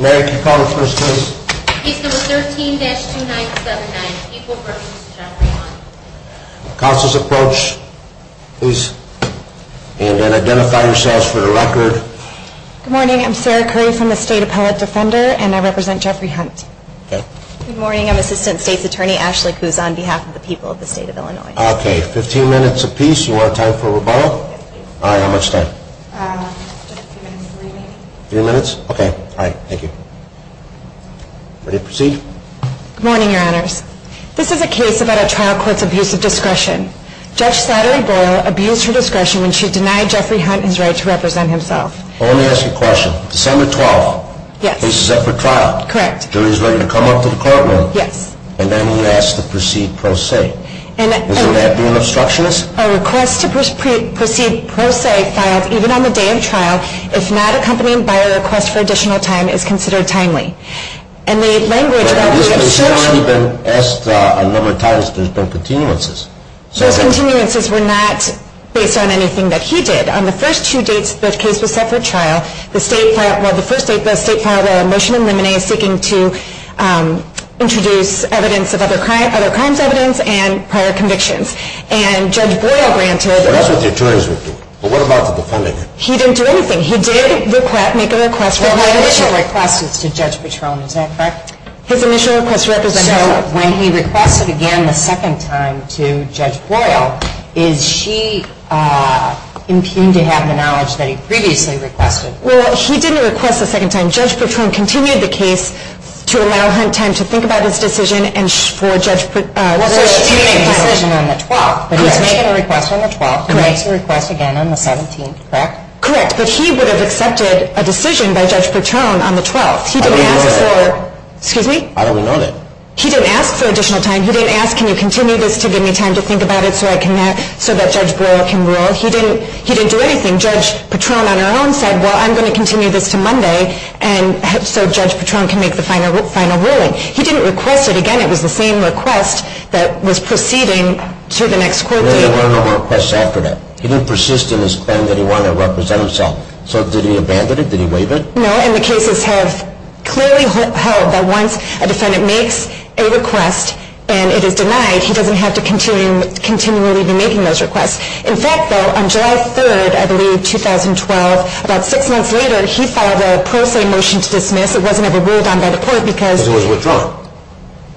Mary, could you call the witness, please? Case number 13-2979, People v. Jeffrey Hunt. Counsel's approach, please. And then identify yourselves for the record. Good morning. I'm Sarah Curry from the State Appellate Defender, and I represent Jeffrey Hunt. Good morning. I'm Assistant State's Attorney Ashley Kuz on behalf of the people of the State of Illinois. Okay. Fifteen minutes apiece. You want a time for rebuttal? All right. How much time? Three minutes. Three minutes? Okay. All right. Thank you. Ready to proceed? Good morning, Your Honors. This is a case about a trial court's abuse of discretion. Judge Sattery Boyle abused her discretion when she denied Jeffrey Hunt his right to represent himself. Well, let me ask you a question. December 12th. Yes. Case is up for trial. Correct. Jury's ready to come up to the courtroom. Yes. And then he asks to proceed pro se. Is that an obstructionist? A request to proceed pro se filed even on the day of trial. If not accompanied by a request for additional time is considered timely. And the language of that was obstructionist. This case has already been asked a number of times. There's been continuances. Those continuances were not based on anything that he did. On the first two dates the case was set for trial, the State filed a motion in limine seeking to introduce evidence of other crimes, evidence and prior convictions. And Judge Boyle granted. That's what the attorneys would do. But what about the defendant? He didn't do anything. He did make a request. Well, my initial request is to Judge Patron. Is that correct? His initial request to represent himself. So when he requested again the second time to Judge Boyle, is she impugned to have the knowledge that he previously requested? Well, he didn't request a second time. Judge Patron continued the case to allow Hunt time to think about his decision and for Judge Patron. Well, so she made a decision on the 12th. Correct. But he's making a request on the 12th. Correct. He makes a request again on the 17th. Correct? Correct. But he would have accepted a decision by Judge Patron on the 12th. How do we know that? Excuse me? How do we know that? He didn't ask for additional time. He didn't ask can you continue this to give me time to think about it so that Judge Boyle can rule. He didn't do anything. Judge Patron on her own said, well, I'm going to continue this to Monday so Judge Patron can make the final ruling. He didn't request it again. It was the same request that was proceeding to the next court date. There were no more requests after that. He didn't persist in his claim that he wanted to represent himself. So did he abandon it? Did he waive it? No, and the cases have clearly held that once a defendant makes a request and it is denied, he doesn't have to continually be making those requests. In fact, though, on July 3rd, I believe 2012, about six months later, he filed a pro se motion to dismiss. It wasn't ever ruled on by the court because it was withdrawn.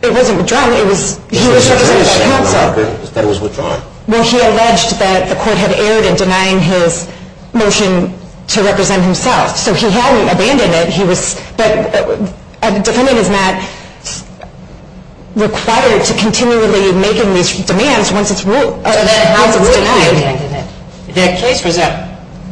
It wasn't withdrawn. It was, he was represented by counsel. That was withdrawn. Well, he alleged that the court had erred in denying his motion to represent himself. So he hadn't abandoned it. He was, but a defendant is not required to continually be making these demands once it's ruled, once it's denied. That case, was that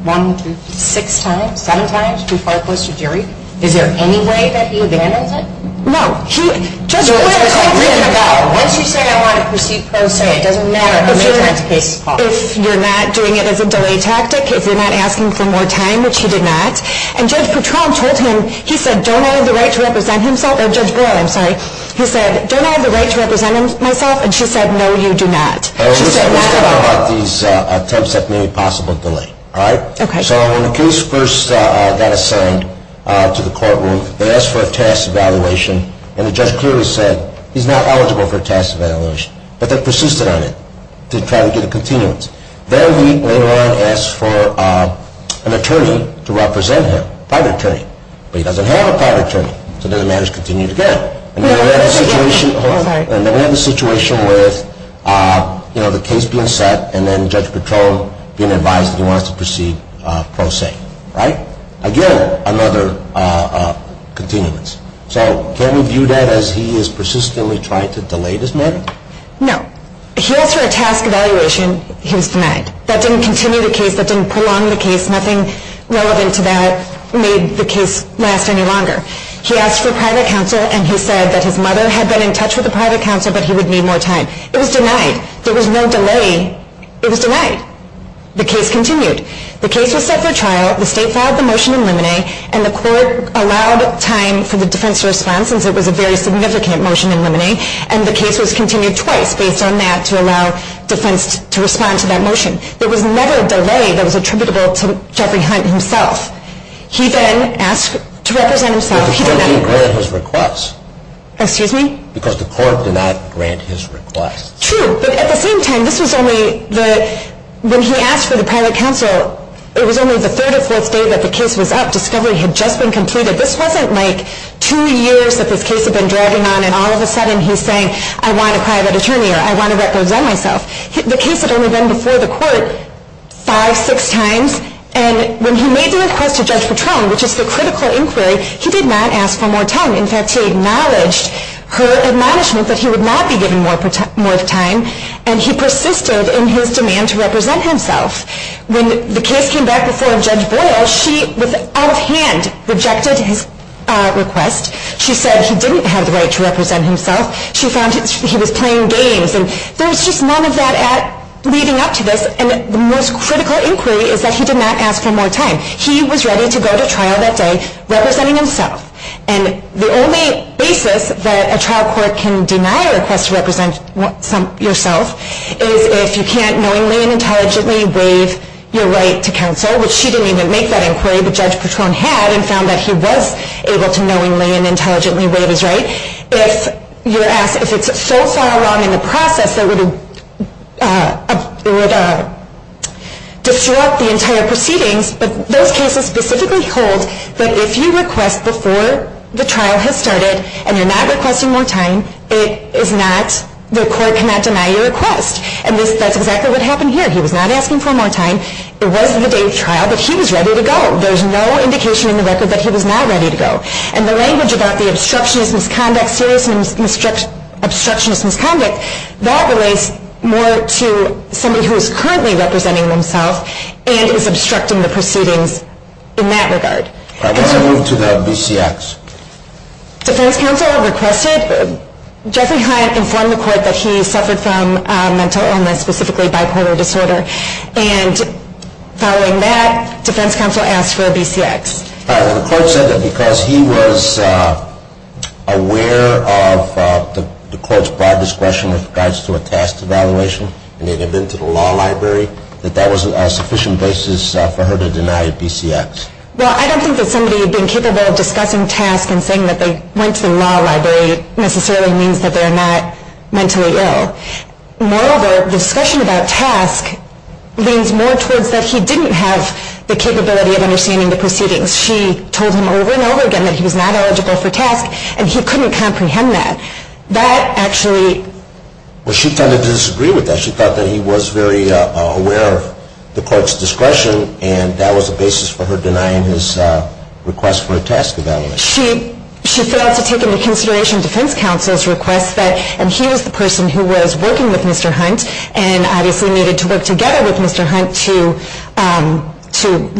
one, two, six times, seven times, too far close to jury? Is there any way that he abandons it? No. He, Judge Goyle told him. Once you say I want to proceed pro se, it doesn't matter how many times the case is called. If you're not doing it as a delay tactic, if you're not asking for more time, which he did not, and Judge Patron told him, he said, don't I have the right to represent himself? Or Judge Goyle, I'm sorry. He said, don't I have the right to represent myself? And she said, no, you do not. Let's talk about these attempts at maybe possible delay. All right? Okay. So when the case first got assigned to the courtroom, they asked for a task evaluation, and the judge clearly said, he's not eligible for a task evaluation. But they persisted on it to try to get a continuance. Then we, later on, asked for an attorney to represent him, private attorney. But he doesn't have a private attorney. So then the matters continued again. And then we have the situation with, you know, the case being set, and then Judge Patron being advised that he wants to proceed pro se. Right? Again, another continuance. So can we view that as he is persistently trying to delay this matter? No. He asked for a task evaluation. He was denied. That didn't continue the case. That didn't prolong the case. Nothing relevant to that made the case last any longer. He asked for private counsel, and he said that his mother had been in touch with the private counsel, but he would need more time. It was denied. There was no delay. It was denied. The case continued. The case was set for trial. The state filed the motion in limine, and the court allowed time for the defense to respond since it was a very significant motion in limine. And the case was continued twice based on that to allow defense to respond to that motion. There was never a delay that was attributable to Jeffrey Hunt himself. He then asked to represent himself. But the court didn't grant his request. Excuse me? Because the court did not grant his request. True. But at the same time, this was only the ñ when he asked for the private counsel, it was only the third or fourth day that the case was up. Discovery had just been completed. This wasn't like two years that this case had been dragging on, and all of a sudden he's saying, I want a private attorney or I want to represent myself. The case had only been before the court five, six times. And when he made the request to Judge Patron, which is the critical inquiry, he did not ask for more time. In fact, he acknowledged her admonishment that he would not be given more time, and he persisted in his demand to represent himself. When the case came back before Judge Boyle, she out of hand rejected his request. She said he didn't have the right to represent himself. She found he was playing games. And there was just none of that leading up to this. And the most critical inquiry is that he did not ask for more time. He was ready to go to trial that day representing himself. And the only basis that a trial court can deny a request to represent yourself is if you can't knowingly and intelligently waive your right to counsel, which she didn't even make that inquiry, but Judge Patron had and found that he was able to knowingly and intelligently waive his right. If it's so far along in the process that it would disrupt the entire proceedings, but those cases specifically hold that if you request before the trial has started and you're not requesting more time, the court cannot deny your request. And that's exactly what happened here. He was not asking for more time. It was the day of trial, but he was ready to go. There's no indication in the record that he was not ready to go. And the language about the obstructionist misconduct series and obstructionist misconduct, that relates more to somebody who is currently representing themself and is obstructing the proceedings in that regard. All right. Let's move to the BCX. Defense counsel requested. Jeffrey Hyatt informed the court that he suffered from a mental illness, specifically bipolar disorder. And following that, defense counsel asked for a BCX. The court said that because he was aware of the court's broad discretion with regards to a task evaluation and they had been to the law library, that that was a sufficient basis for her to deny a BCX. Well, I don't think that somebody had been capable of discussing task and saying that they went to the law library necessarily means that they're not mentally ill. Moreover, discussion about task leans more towards that he didn't have the capability of understanding the proceedings. She told him over and over again that he was not eligible for task and he couldn't comprehend that. That actually. Well, she kind of disagreed with that. She thought that he was very aware of the court's discretion and that was the basis for her denying his request for a task evaluation. She failed to take into consideration defense counsel's request that and he was the person who was working with Mr. Hunt and obviously needed to work together with Mr. Hunt to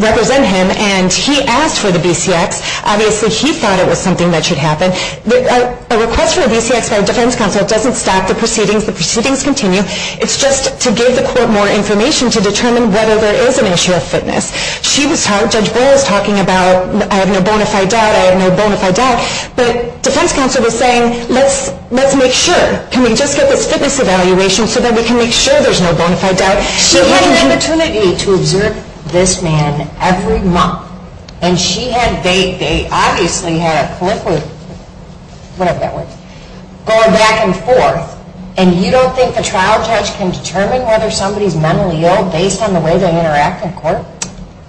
represent him. And he asked for the BCX. Obviously, he thought it was something that should happen. A request for a BCX by a defense counsel doesn't stop the proceedings. The proceedings continue. It's just to give the court more information to determine whether there is an issue of fitness. She was talking, Judge Boyle was talking about I have no bona fide doubt, I have no bona fide doubt. But defense counsel was saying let's make sure. Can we just get this fitness evaluation so that we can make sure there's no bona fide doubt. She had an opportunity to observe this man every month. And she had, they obviously had a clip of, whatever that was, going back and forth. And you don't think a trial judge can determine whether somebody is mentally ill based on the way they interact in court?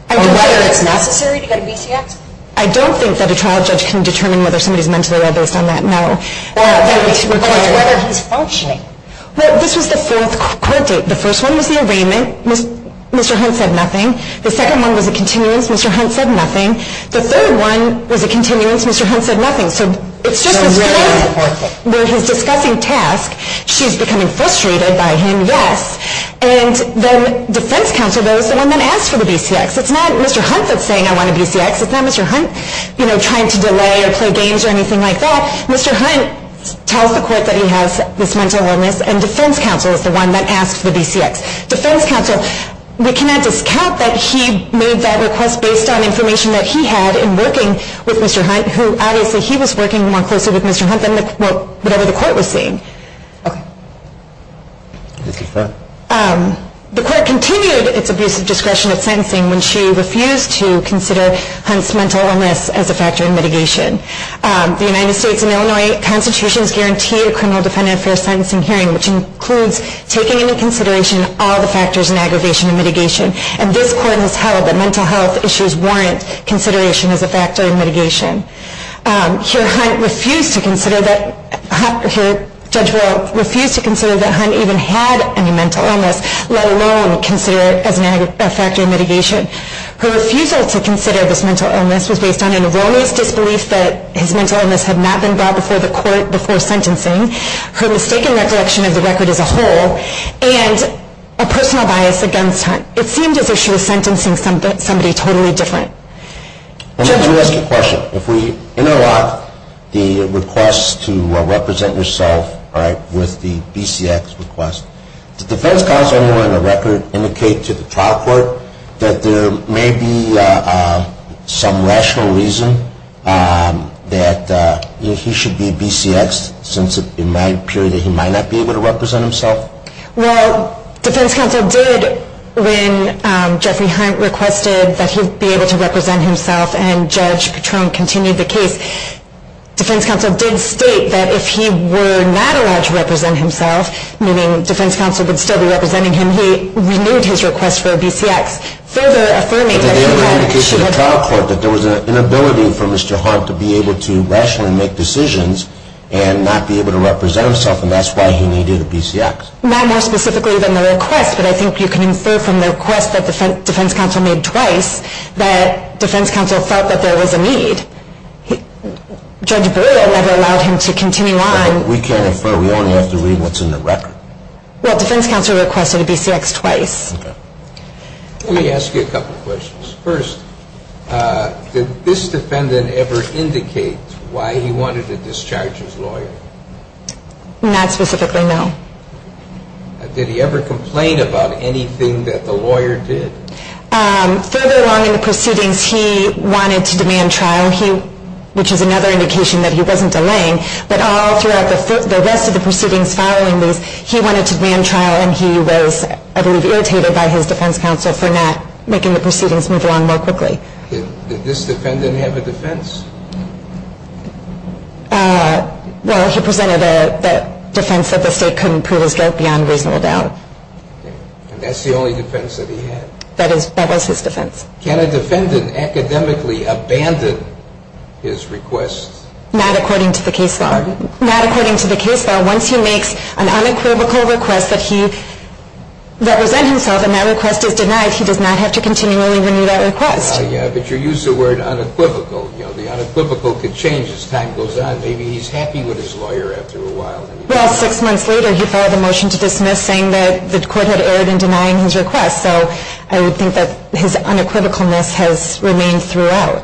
Or whether it's necessary to get a BCX? I don't think that a trial judge can determine whether somebody is mentally ill based on that. No. Or whether he's functioning. Well, this was the fourth court date. The first one was the arraignment. Mr. Hunt said nothing. The second one was a continuance. Mr. Hunt said nothing. The third one was a continuance. Mr. Hunt said nothing. So it's just Mr. Hunt with his discussing task. She's becoming frustrated by him, yes. And then defense counsel goes and then asks for the BCX. It's not Mr. Hunt that's saying I want a BCX. It's not Mr. Hunt, you know, trying to delay or play games or anything like that. Mr. Hunt tells the court that he has this mental illness. And defense counsel is the one that asks for the BCX. Defense counsel, we cannot discount that he made that request based on information that he had in working with Mr. Hunt, who obviously he was working more closely with Mr. Hunt than whatever the court was saying. Okay. Mr. Hunt. The court continued its abusive discretion of sentencing when she refused to consider Hunt's mental illness as a factor in mitigation. The United States and Illinois constitutions guarantee a criminal defendant fair sentencing hearing, which includes taking into consideration all the factors in aggravation and mitigation. And this court has held that mental health issues warrant consideration as a factor in mitigation. Here Hunt refused to consider that Hunt even had any mental illness, let alone consider it as a factor in mitigation. Her refusal to consider this mental illness was based on an erroneous disbelief that his mental illness had not been brought before the court before sentencing, her mistaken recollection of the record as a whole, and a personal bias against Hunt. It seemed as if she was sentencing somebody totally different. Let me ask you a question. If we interlock the request to represent yourself, all right, with the BCX request, did the defense counsel on the record indicate to the trial court that there may be some rational reason that he should be BCX since it might appear that he might not be able to represent himself? Well, defense counsel did when Jeffrey Hunt requested that he be able to represent himself and Judge Patron continued the case. Defense counsel did state that if he were not allowed to represent himself, meaning defense counsel would still be representing him, he renewed his request for a BCX, further affirming that he wanted to. Did they ever indicate to the trial court that there was an inability for Mr. Hunt to be able to rationally make decisions and not be able to represent himself and that's why he needed a BCX? Not more specifically than the request, but I think you can infer from the request that defense counsel made twice that defense counsel felt that there was a need. Judge Brewer never allowed him to continue on. We can't infer. We only have to read what's in the record. Well, defense counsel requested a BCX twice. Let me ask you a couple of questions. First, did this defendant ever indicate why he wanted to discharge his lawyer? Not specifically, no. Did he ever complain about anything that the lawyer did? Further along in the proceedings, he wanted to demand trial, which is another indication that he wasn't delaying, but all throughout the rest of the proceedings following these, he wanted to demand trial and he was, I believe, irritated by his defense counsel for not making the proceedings move along more quickly. Did this defendant have a defense? Well, he presented a defense that the state couldn't prove his guilt beyond reasonable doubt. And that's the only defense that he had? That was his defense. Can a defendant academically abandon his request? Not according to the case law. Pardon? Not according to the case law. Once he makes an unequivocal request that he represent himself and that request is denied, he does not have to continually renew that request. Yeah, but you used the word unequivocal. The unequivocal could change as time goes on. Maybe he's happy with his lawyer after a while. Well, six months later, he filed a motion to dismiss saying that the court had erred in denying his request, so I would think that his unequivocalness has remained throughout.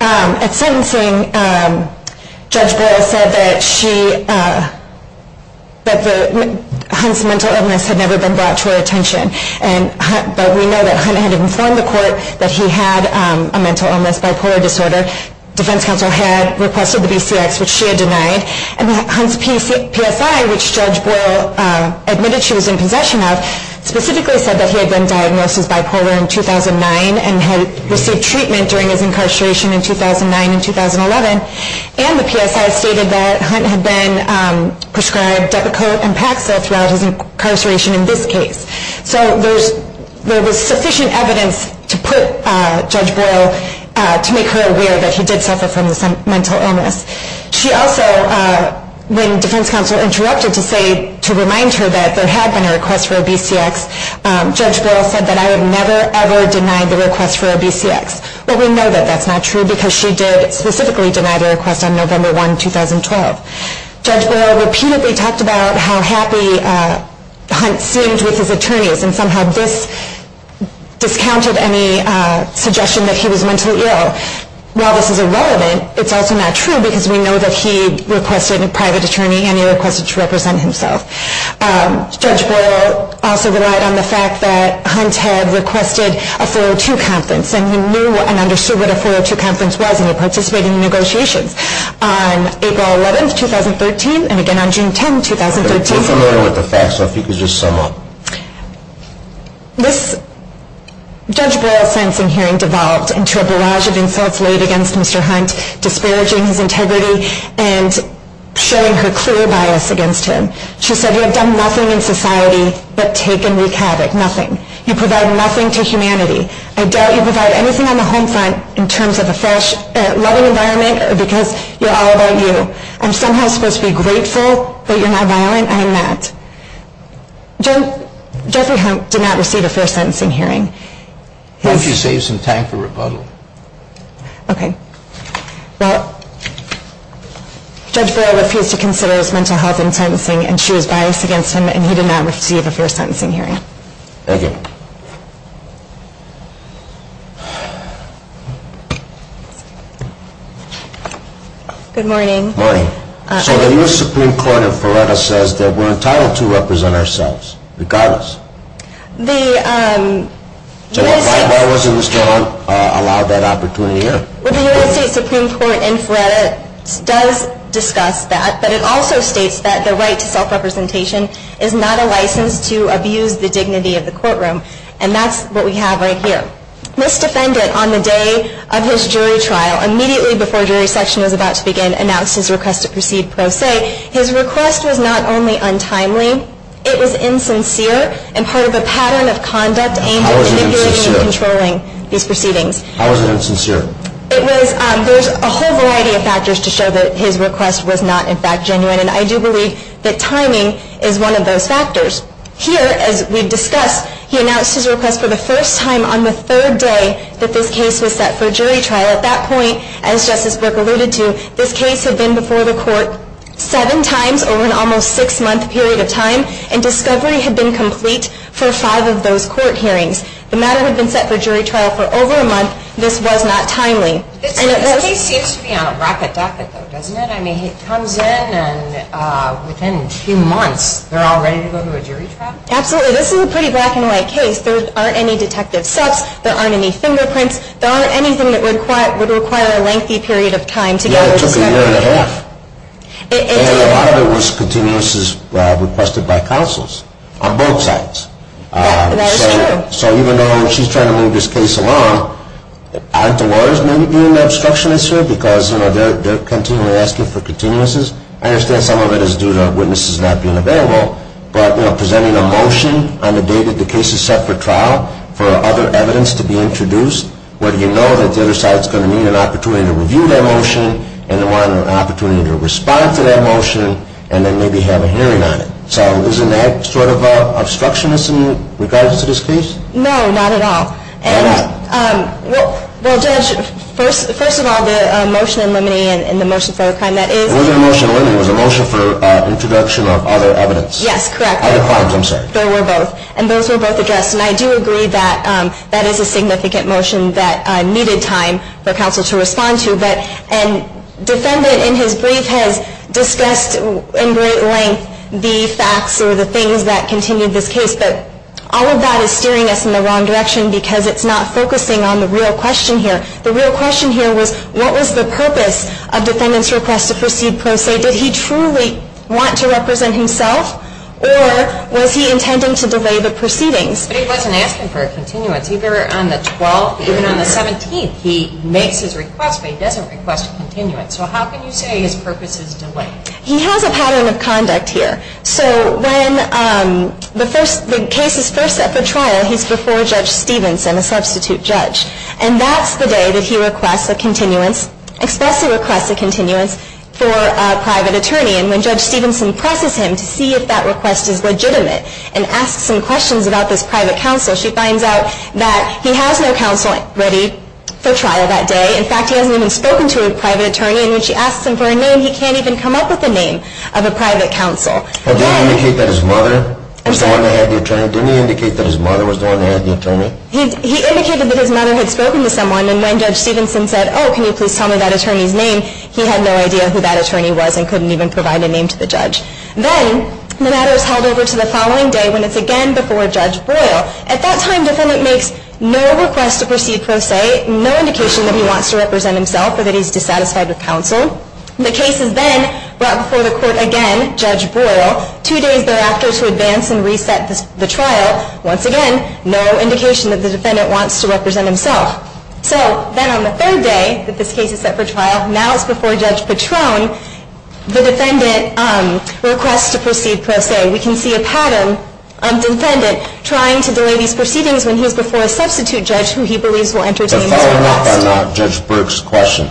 At sentencing, Judge Boyle said that Hunt's mental illness had never been brought to her attention, but we know that Hunt had informed the court that he had a mental illness, bipolar disorder. Defense counsel had requested the BCX, which she had denied, and Hunt's PSI, which Judge Boyle admitted she was in possession of, specifically said that he had been diagnosed as bipolar in 2009 and had received treatment during his incarceration in 2009 and 2011, and the PSI stated that Hunt had been prescribed Depakote and Paxil throughout his incarceration in this case. So there was sufficient evidence to put Judge Boyle, to make her aware that he did suffer from this mental illness. She also, when defense counsel interrupted to say, to remind her that there had been a request for a BCX, Judge Boyle said that I have never, ever denied the request for a BCX, but we know that that's not true because she did specifically deny the request on November 1, 2012. Judge Boyle repeatedly talked about how happy Hunt seemed with his attorneys and somehow discounted any suggestion that he was mentally ill. While this is irrelevant, it's also not true because we know that he requested a private attorney and he requested to represent himself. Judge Boyle also relied on the fact that Hunt had requested a 402 conference and he knew and understood what a 402 conference was and he participated in the negotiations. On April 11, 2013 and again on June 10, 2013. I'm familiar with the facts, so if you could just sum up. This Judge Boyle sentencing hearing devolved into a barrage of insults laid against Mr. Hunt, disparaging his integrity and showing her clear bias against him. She said you have done nothing in society but take and wreak havoc, nothing. You provide nothing to humanity. I doubt you provide anything on the home front in terms of a fresh loving environment or because you're all about you. I'm somehow supposed to be grateful that you're not violent and I'm not. Judge Boyle did not receive a fair sentencing hearing. Why don't you save some time for rebuttal? Okay. Well, Judge Boyle refused to consider his mental health in sentencing and she was biased against him and he did not receive a fair sentencing hearing. Thank you. Good morning. Good morning. So the U.S. Supreme Court in Feretta says that we're entitled to represent ourselves regardless. The U.S. Supreme Court in Feretta does discuss that, but it also states that the right to self-representation is not a license to abuse the dignity of the courtroom. And that's what we have right here. This defendant on the day of his jury trial, immediately before jury session was about to begin, announced his request to proceed pro se. His request was not only untimely, it was insincere and part of a pattern of conduct aimed at manipulating and controlling these proceedings. How was it insincere? There's a whole variety of factors to show that his request was not, in fact, genuine, and I do believe that timing is one of those factors. Here, as we've discussed, he announced his request for the first time on the third day that this case was set for jury trial. At that point, as Justice Brook alluded to, this case had been before the court seven times over an almost six-month period of time and discovery had been complete for five of those court hearings. The matter had been set for jury trial for over a month. This was not timely. This case seems to be on a rapid docket, though, doesn't it? I mean, it comes in and within two months they're all ready to go to a jury trial? Absolutely. This is a pretty black-and-white case. There aren't any detective steps. There aren't any fingerprints. There aren't anything that would require a lengthy period of time to gather discovery. Yeah, it took a year and a half. And a lot of it was continuous as requested by counsels on both sides. That is true. So even though she's trying to move this case along, aren't the lawyers maybe being the obstructionists here? Because they're continually asking for continuances. I understand some of it is due to witnesses not being available, but presenting a motion on the day that the case is set for trial for other evidence to be introduced where you know that the other side is going to need an opportunity to review that motion and want an opportunity to respond to that motion and then maybe have a hearing on it. So isn't that sort of an obstructionist in regards to this case? No, not at all. Well, Judge, first of all, the motion in limine and the motion for other crime that is The other motion in limine was a motion for introduction of other evidence. Yes, correct. Other crimes, I'm sorry. There were both. And those were both addressed. And I do agree that that is a significant motion that needed time for counsel to respond to. But a defendant in his brief has discussed in great length the facts or the things that continued this case. But all of that is steering us in the wrong direction because it's not focusing on the real question here. The real question here was what was the purpose of defendant's request to proceed pro se? Did he truly want to represent himself? Or was he intending to delay the proceedings? But he wasn't asking for a continuance. Even on the 17th, he makes his request, but he doesn't request a continuance. So how can you say his purpose is delayed? He has a pattern of conduct here. So when the case is first set for trial, he's before Judge Stevenson, a substitute judge. And that's the day that he requests a continuance, expressly requests a continuance, for a private attorney. And when Judge Stevenson presses him to see if that request is legitimate and asks him questions about this private counsel, she finds out that he has no counsel ready for trial that day. In fact, he hasn't even spoken to a private attorney. And when she asks him for a name, he can't even come up with a name of a private counsel. Did he indicate that his mother was the one that had the attorney? Didn't he indicate that his mother was the one that had the attorney? He indicated that his mother had spoken to someone. And when Judge Stevenson said, oh, can you please tell me that attorney's name, he had no idea who that attorney was and couldn't even provide a name to the judge. Then the matter is held over to the following day when it's again before Judge Broyle. At that time, defendant makes no request to proceed pro se, no indication that he wants to represent himself or that he's dissatisfied with counsel. The case is then brought before the court again, Judge Broyle, two days thereafter to advance and reset the trial. Once again, no indication that the defendant wants to represent himself. So then on the third day that this case is set for trial, now it's before Judge Patrone. The defendant requests to proceed pro se. We can see a pattern of defendant trying to delay these proceedings when he's before a substitute judge who he believes will entertain his request. But following up on Judge Burke's question,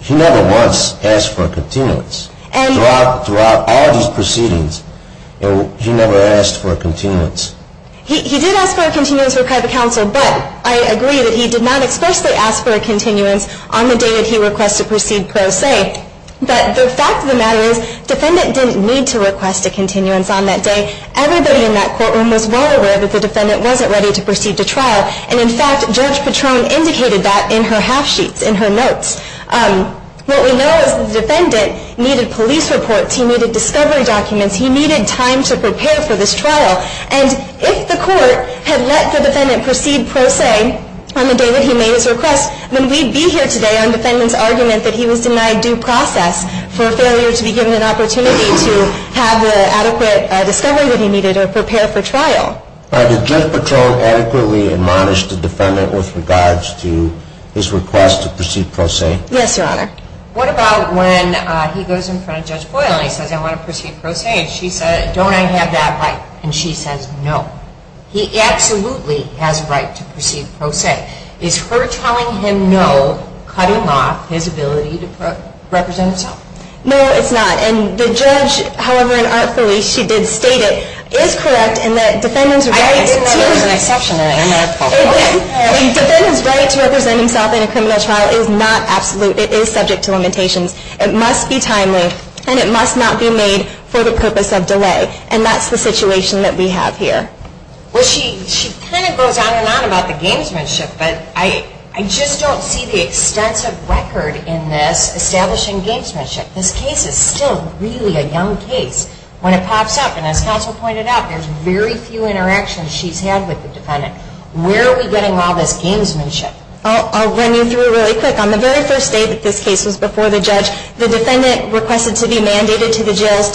he never once asked for a continuance. Throughout all these proceedings, he never asked for a continuance. He did ask for a continuance for private counsel, but I agree that he did not expressly ask for a continuance on the day that he requested to proceed pro se. But the fact of the matter is, defendant didn't need to request a continuance on that day. Everybody in that courtroom was well aware that the defendant wasn't ready to proceed to trial. And in fact, Judge Patrone indicated that in her half sheets, in her notes. What we know is the defendant needed police reports. He needed discovery documents. He needed time to prepare for this trial. And if the court had let the defendant proceed pro se on the day that he made his request, then we'd be here today on defendant's argument that he was denied due process for failure to be given an opportunity to have the adequate discovery that he needed to prepare for trial. Did Judge Patrone adequately admonish the defendant with regards to his request to proceed pro se? Yes, Your Honor. What about when he goes in front of Judge Boyle and he says, I want to proceed pro se, and she says, don't I have that right? And she says, no. He absolutely has a right to proceed pro se. Is her telling him no cutting off his ability to represent himself? No, it's not. And the judge, however unartfully she did state it, is correct in that defendant's right to I didn't know there was an exception in it. I'm at a fault. Okay. Defendant's right to represent himself in a criminal trial is not absolute. It is subject to limitations. It must be timely. And it must not be made for the purpose of delay. And that's the situation that we have here. Well, she kind of goes on and on about the gamesmanship. But I just don't see the extensive record in this establishing gamesmanship. This case is still really a young case. When it pops up, and as counsel pointed out, there's very few interactions she's had with the defendant, where are we getting all this gamesmanship? I'll run you through it really quick. On the very first day that this case was before the judge, the defendant requested to be mandated to the That's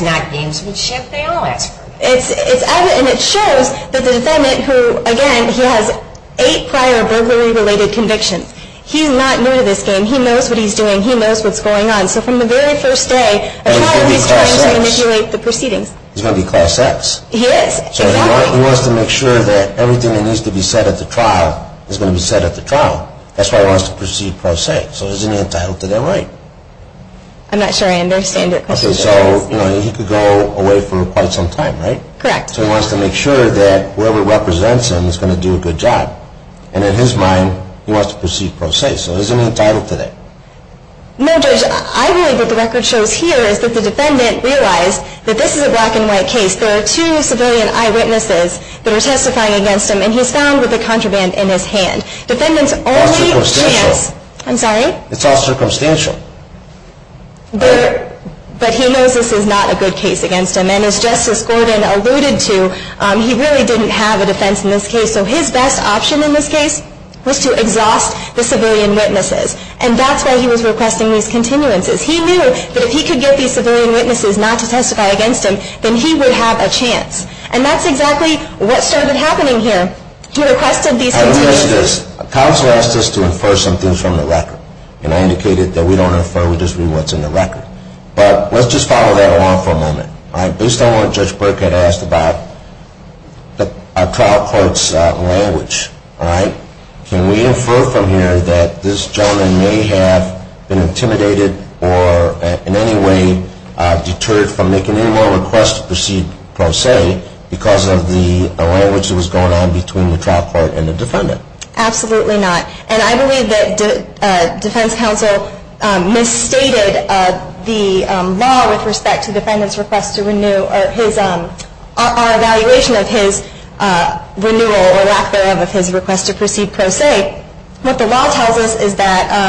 not gamesmanship. They all ask for it. And it shows that the defendant, who, again, he has eight prior burglary-related convictions. He's not new to this game. He knows what he's doing. He knows what's going on. So from the very first day of trial, he's trying to manipulate the proceedings. He's going to be class X. He is. Exactly. So he wants to make sure that everything that needs to be said at the trial is going to be said at the trial. That's why he wants to proceed pro se. So there's an entitlement to their right. I'm not sure I understand your question. So he could go away for quite some time, right? Correct. So he wants to make sure that whoever represents him is going to do a good job. And in his mind, he wants to proceed pro se. So isn't he entitled to that? No, Judge. I believe what the record shows here is that the defendant realized that this is a black-and-white case. There are two civilian eyewitnesses that are testifying against him, and he's found with a contraband in his hand. Defendant's only chance. It's all circumstantial. I'm sorry? It's all circumstantial. But he knows this is not a good case against him. And as Justice Gordon alluded to, he really didn't have a defense in this case. So his best option in this case was to exhaust the civilian witnesses. And that's why he was requesting these continuances. He knew that if he could get these civilian witnesses not to testify against him, then he would have a chance. And that's exactly what started happening here. He requested these continuances. Counsel asked us to infer some things from the record. And I indicated that we don't infer, we just read what's in the record. But let's just follow that along for a moment. Based on what Judge Burkett asked about a trial court's language, can we infer from here that this gentleman may have been intimidated or in any way deterred from making any more requests to proceed pro se because of the language that was going on between the trial court and the defendant? Absolutely not. And I believe that defense counsel misstated the law with respect to defendant's request to renew or our evaluation of his renewal or lack thereof of his request to proceed pro se. What the law tells us is that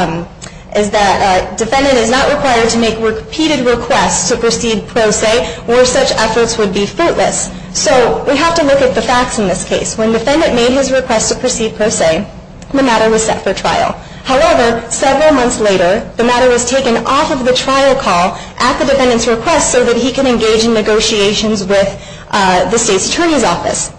defendant is not required to make repeated requests to proceed pro se or such efforts would be fruitless. So we have to look at the facts in this case. When defendant made his request to proceed pro se, the matter was set for trial. However, several months later, the matter was taken off of the trial call at the defendant's request so that he could engage in negotiations with the state's attorney's office.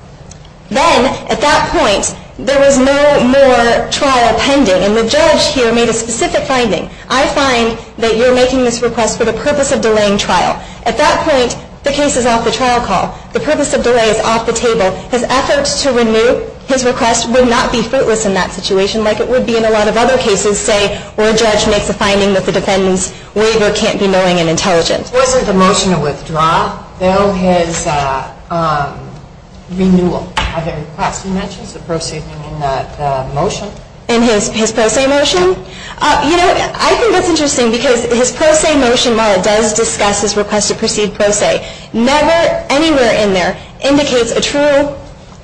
Then, at that point, there was no more trial pending. And the judge here made a specific finding. I find that you're making this request for the purpose of delaying trial. At that point, the case is off the trial call. The purpose of delay is off the table. His efforts to renew his request would not be fruitless in that situation like it would be in a lot of other cases, say, where a judge makes a finding that the defendant's waiver can't be knowing and intelligent. Was it the motion to withdraw, though, his renewal of the request? You mentioned the proceeding in that motion. In his pro se motion? You know, I think that's interesting because his pro se motion, while it does discuss his request to proceed pro se, never anywhere in there indicates a true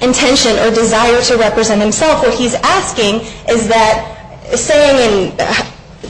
intention or desire to represent himself. What he's asking is that, saying in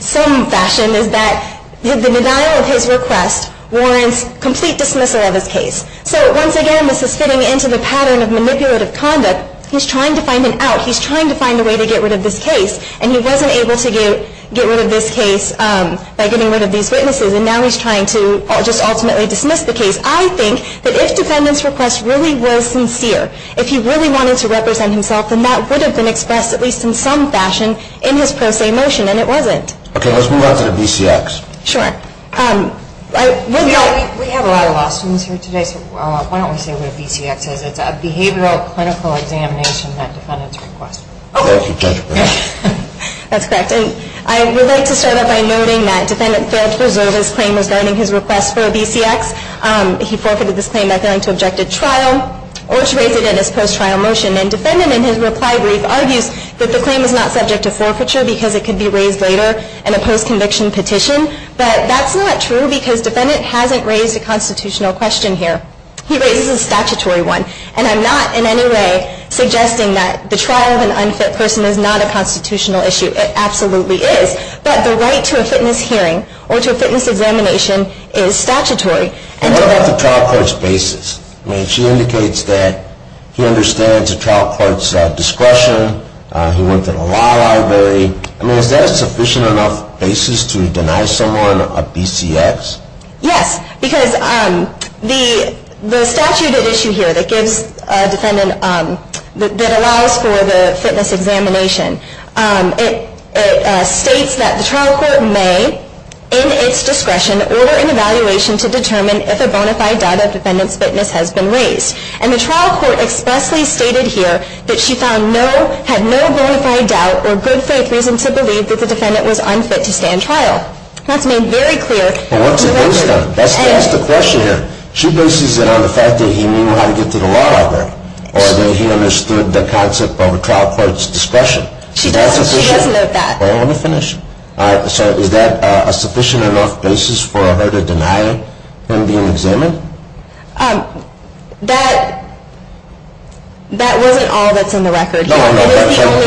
some fashion, is that the denial of his request warrants complete dismissal of his case. So, once again, this is fitting into the pattern of manipulative conduct. He's trying to find an out. He's trying to find a way to get rid of this case, and he wasn't able to get rid of this case by getting rid of these witnesses. And now he's trying to just ultimately dismiss the case. I think that if the defendant's request really was sincere, if he really wanted to represent himself, then that would have been expressed at least in some fashion in his pro se motion, and it wasn't. Okay. Let's move on to the BCX. Sure. We have a lot of lost students here today, so why don't we say what a BCX is? It's a behavioral clinical examination that defendants request. Okay. That's correct. And I would like to start out by noting that defendant failed to preserve his claim regarding his request for a BCX. He forfeited this claim by failing to object at trial or to raise it in his post-trial motion. And defendant in his reply brief argues that the claim was not subject to forfeiture because it could be raised later in a post-conviction petition. But that's not true because defendant hasn't raised a constitutional question here. He raises a statutory one. And I'm not in any way suggesting that the trial of an unfit person is not a constitutional issue. It absolutely is. But the right to a fitness hearing or to a fitness examination is statutory. And what about the trial court's basis? I mean, she indicates that he understands the trial court's discretion. He went to the law library. I mean, is that a sufficient enough basis to deny someone a BCX? Yes, because the statute at issue here that gives a defendant, that allows for the fitness examination, it states that the trial court may, in its discretion, order an evaluation to determine if a bona fide doubt of defendant's fitness has been raised. And the trial court expressly stated here that she found no, had no bona fide doubt or good faith reason to believe that the defendant was unfit to stay in trial. That's made very clear. But what's it based on? That's the question here. She bases it on the fact that he knew how to get to the law library. Or that he understood the concept of a trial court's discretion. She does note that. Let me finish. So is that a sufficient enough basis for her to deny him being examined? That wasn't all that's in the record here. No, but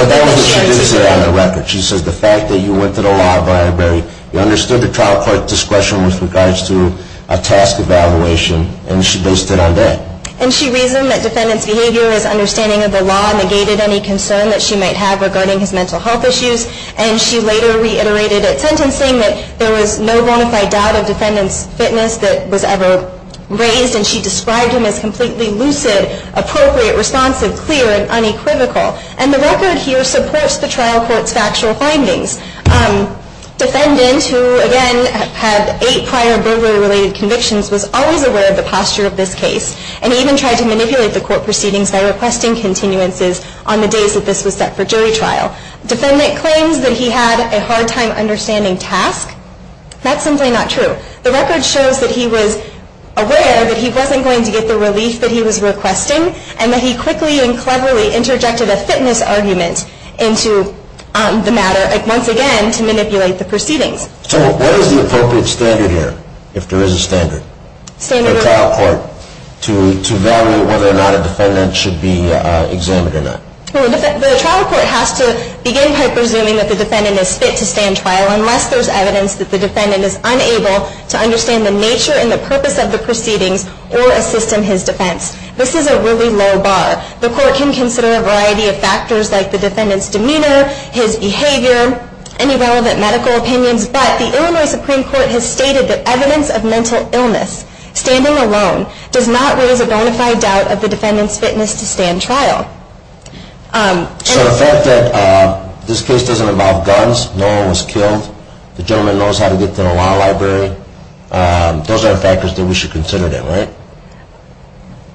that was what she did say on the record. She says the fact that you went to the law library, you understood the trial court's discretion with regards to a task evaluation, and she based it on that. And she reasoned that defendant's behavior, his understanding of the law, negated any concern that she might have regarding his mental health issues. And she later reiterated at sentencing that there was no bona fide doubt of defendant's fitness that was ever raised, and she described him as completely lucid, appropriate, responsive, clear, and unequivocal. And the record here supports the trial court's factual findings. Defendant, who, again, had eight prior burglary-related convictions, was always aware of the posture of this case, and even tried to manipulate the court proceedings by requesting continuances on the days that this was set for jury trial. Defendant claims that he had a hard-time understanding task. That's simply not true. The record shows that he was aware that he wasn't going to get the relief that he was requesting, and that he quickly and cleverly interjected a fitness argument into the matter, once again, to manipulate the proceedings. So what is the appropriate standard here, if there is a standard, for a trial court to evaluate whether or not a defendant should be examined or not? Well, the trial court has to begin by presuming that the defendant is fit to stand trial unless there's evidence that the defendant is unable to understand the nature and the purpose of the proceedings or assist in his defense. This is a really low bar. The court can consider a variety of factors like the defendant's demeanor, his behavior, any relevant medical opinions. But the Illinois Supreme Court has stated that evidence of mental illness, standing alone, does not raise a bona fide doubt of the defendant's fitness to stand trial. So the fact that this case doesn't involve guns, no one was killed, the gentleman knows how to get to the law library, those are factors that we should consider, right?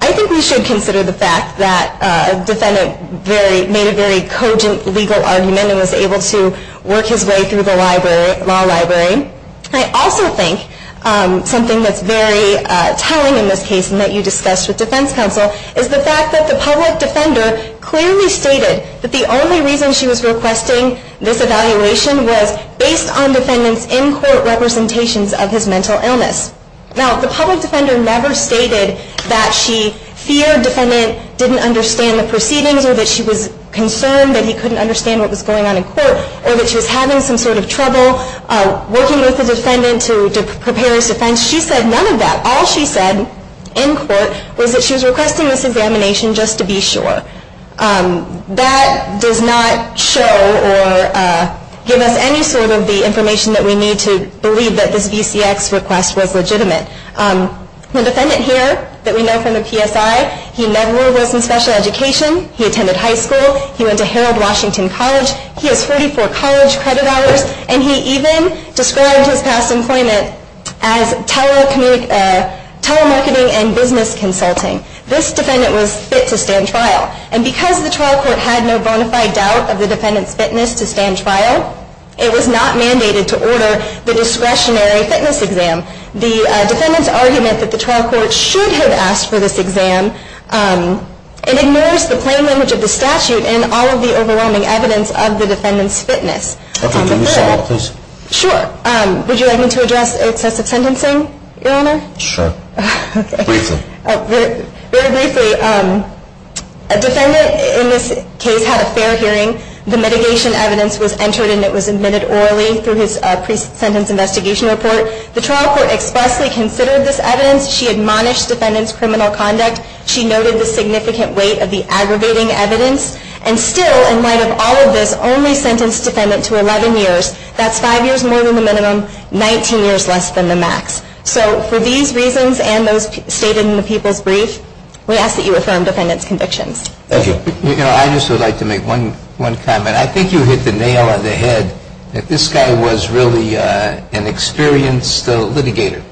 I think we should consider the fact that a defendant made a very cogent legal argument and was able to work his way through the law library. I also think something that's very telling in this case and that you discussed with defense counsel is the fact that the public defender clearly stated that the only reason she was requesting this evaluation was based on defendant's in-court representations of his mental illness. Now, the public defender never stated that she feared defendant didn't understand the proceedings or that she was concerned that he couldn't understand what was going on in court or that she was having some sort of trouble working with the defendant to prepare his defense. She said none of that. All she said in court was that she was requesting this examination just to be sure. That does not show or give us any sort of the information that we need to believe that this VCX request was legitimate. The defendant here that we know from the PSI, he never was in special education. He attended high school. He went to Harold Washington College. He has 34 college credit hours. And he even described his past employment as telemarketing and business consulting. This defendant was fit to stand trial. And because the trial court had no bona fide doubt of the defendant's fitness to stand trial, it was not mandated to order the discretionary fitness exam. The defendant's argument that the trial court should have asked for this exam, it ignores the plain language of the statute and all of the overwhelming evidence of the defendant's fitness. Could you say that, please? Sure. Would you like me to address excessive sentencing, Your Honor? Sure. Briefly. Very briefly. A defendant in this case had a fair hearing. The mitigation evidence was entered and it was admitted orally through his pre-sentence investigation report. The trial court expressly considered this evidence. She admonished the defendant's criminal conduct. She noted the significant weight of the aggravating evidence. And still, in light of all of this, only sentenced the defendant to 11 years. That's five years more than the minimum, 19 years less than the max. So for these reasons and those stated in the people's brief, we ask that you affirm the defendant's convictions. Thank you. I just would like to make one comment. I think you hit the nail on the head that this guy was really an experienced litigator.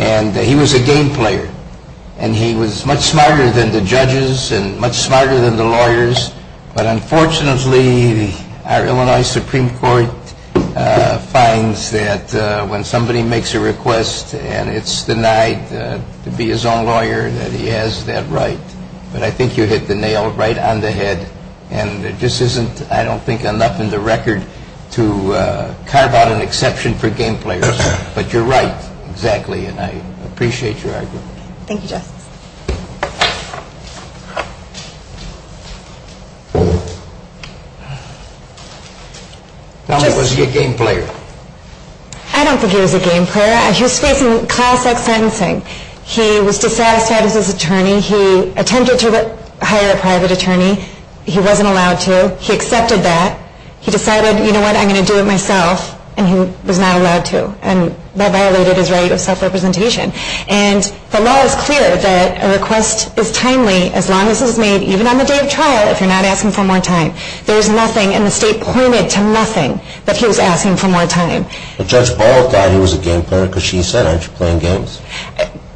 And he was a game player. And he was much smarter than the judges and much smarter than the lawyers. But unfortunately, our Illinois Supreme Court finds that when somebody makes a request and it's denied to be his own lawyer, that he has that right. But I think you hit the nail right on the head. And it just isn't, I don't think, enough in the record to carve out an exception for game players. But you're right, exactly. And I appreciate your argument. Thank you, Justice. Tell me, was he a game player? I don't think he was a game player. He was facing class-like sentencing. He was dissatisfied as his attorney. He attempted to hire a private attorney. He wasn't allowed to. He accepted that. He decided, you know what, I'm going to do it myself. And he was not allowed to. And that violated his right of self-representation. And the law is clear that a request is timely as long as it's made even on the day of trial, if you're not asking for more time. There's nothing, and the state pointed to nothing, that he was asking for more time. But Judge Boyle thought he was a game player because she said, aren't you playing games?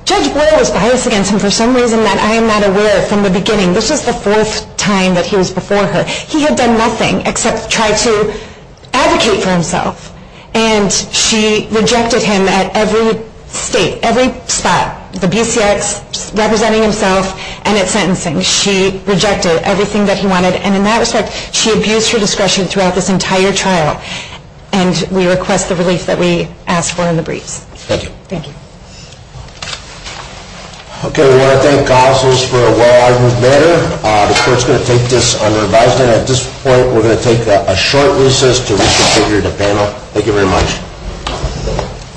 Judge Boyle was biased against him for some reason that I am not aware of from the beginning. This is the fourth time that he was before her. He had done nothing except try to advocate for himself. And she rejected him at every state, every spot, the BCX, representing himself, and at sentencing. She rejected everything that he wanted. And in that respect, she abused her discretion throughout this entire trial. And we request the relief that we asked for in the briefs. Thank you. Thank you. Okay, we want to thank the officers for a well-armed manner. The court is going to take this under advisement. At this point, we're going to take a short recess to reconfigure the panel. Thank you very much.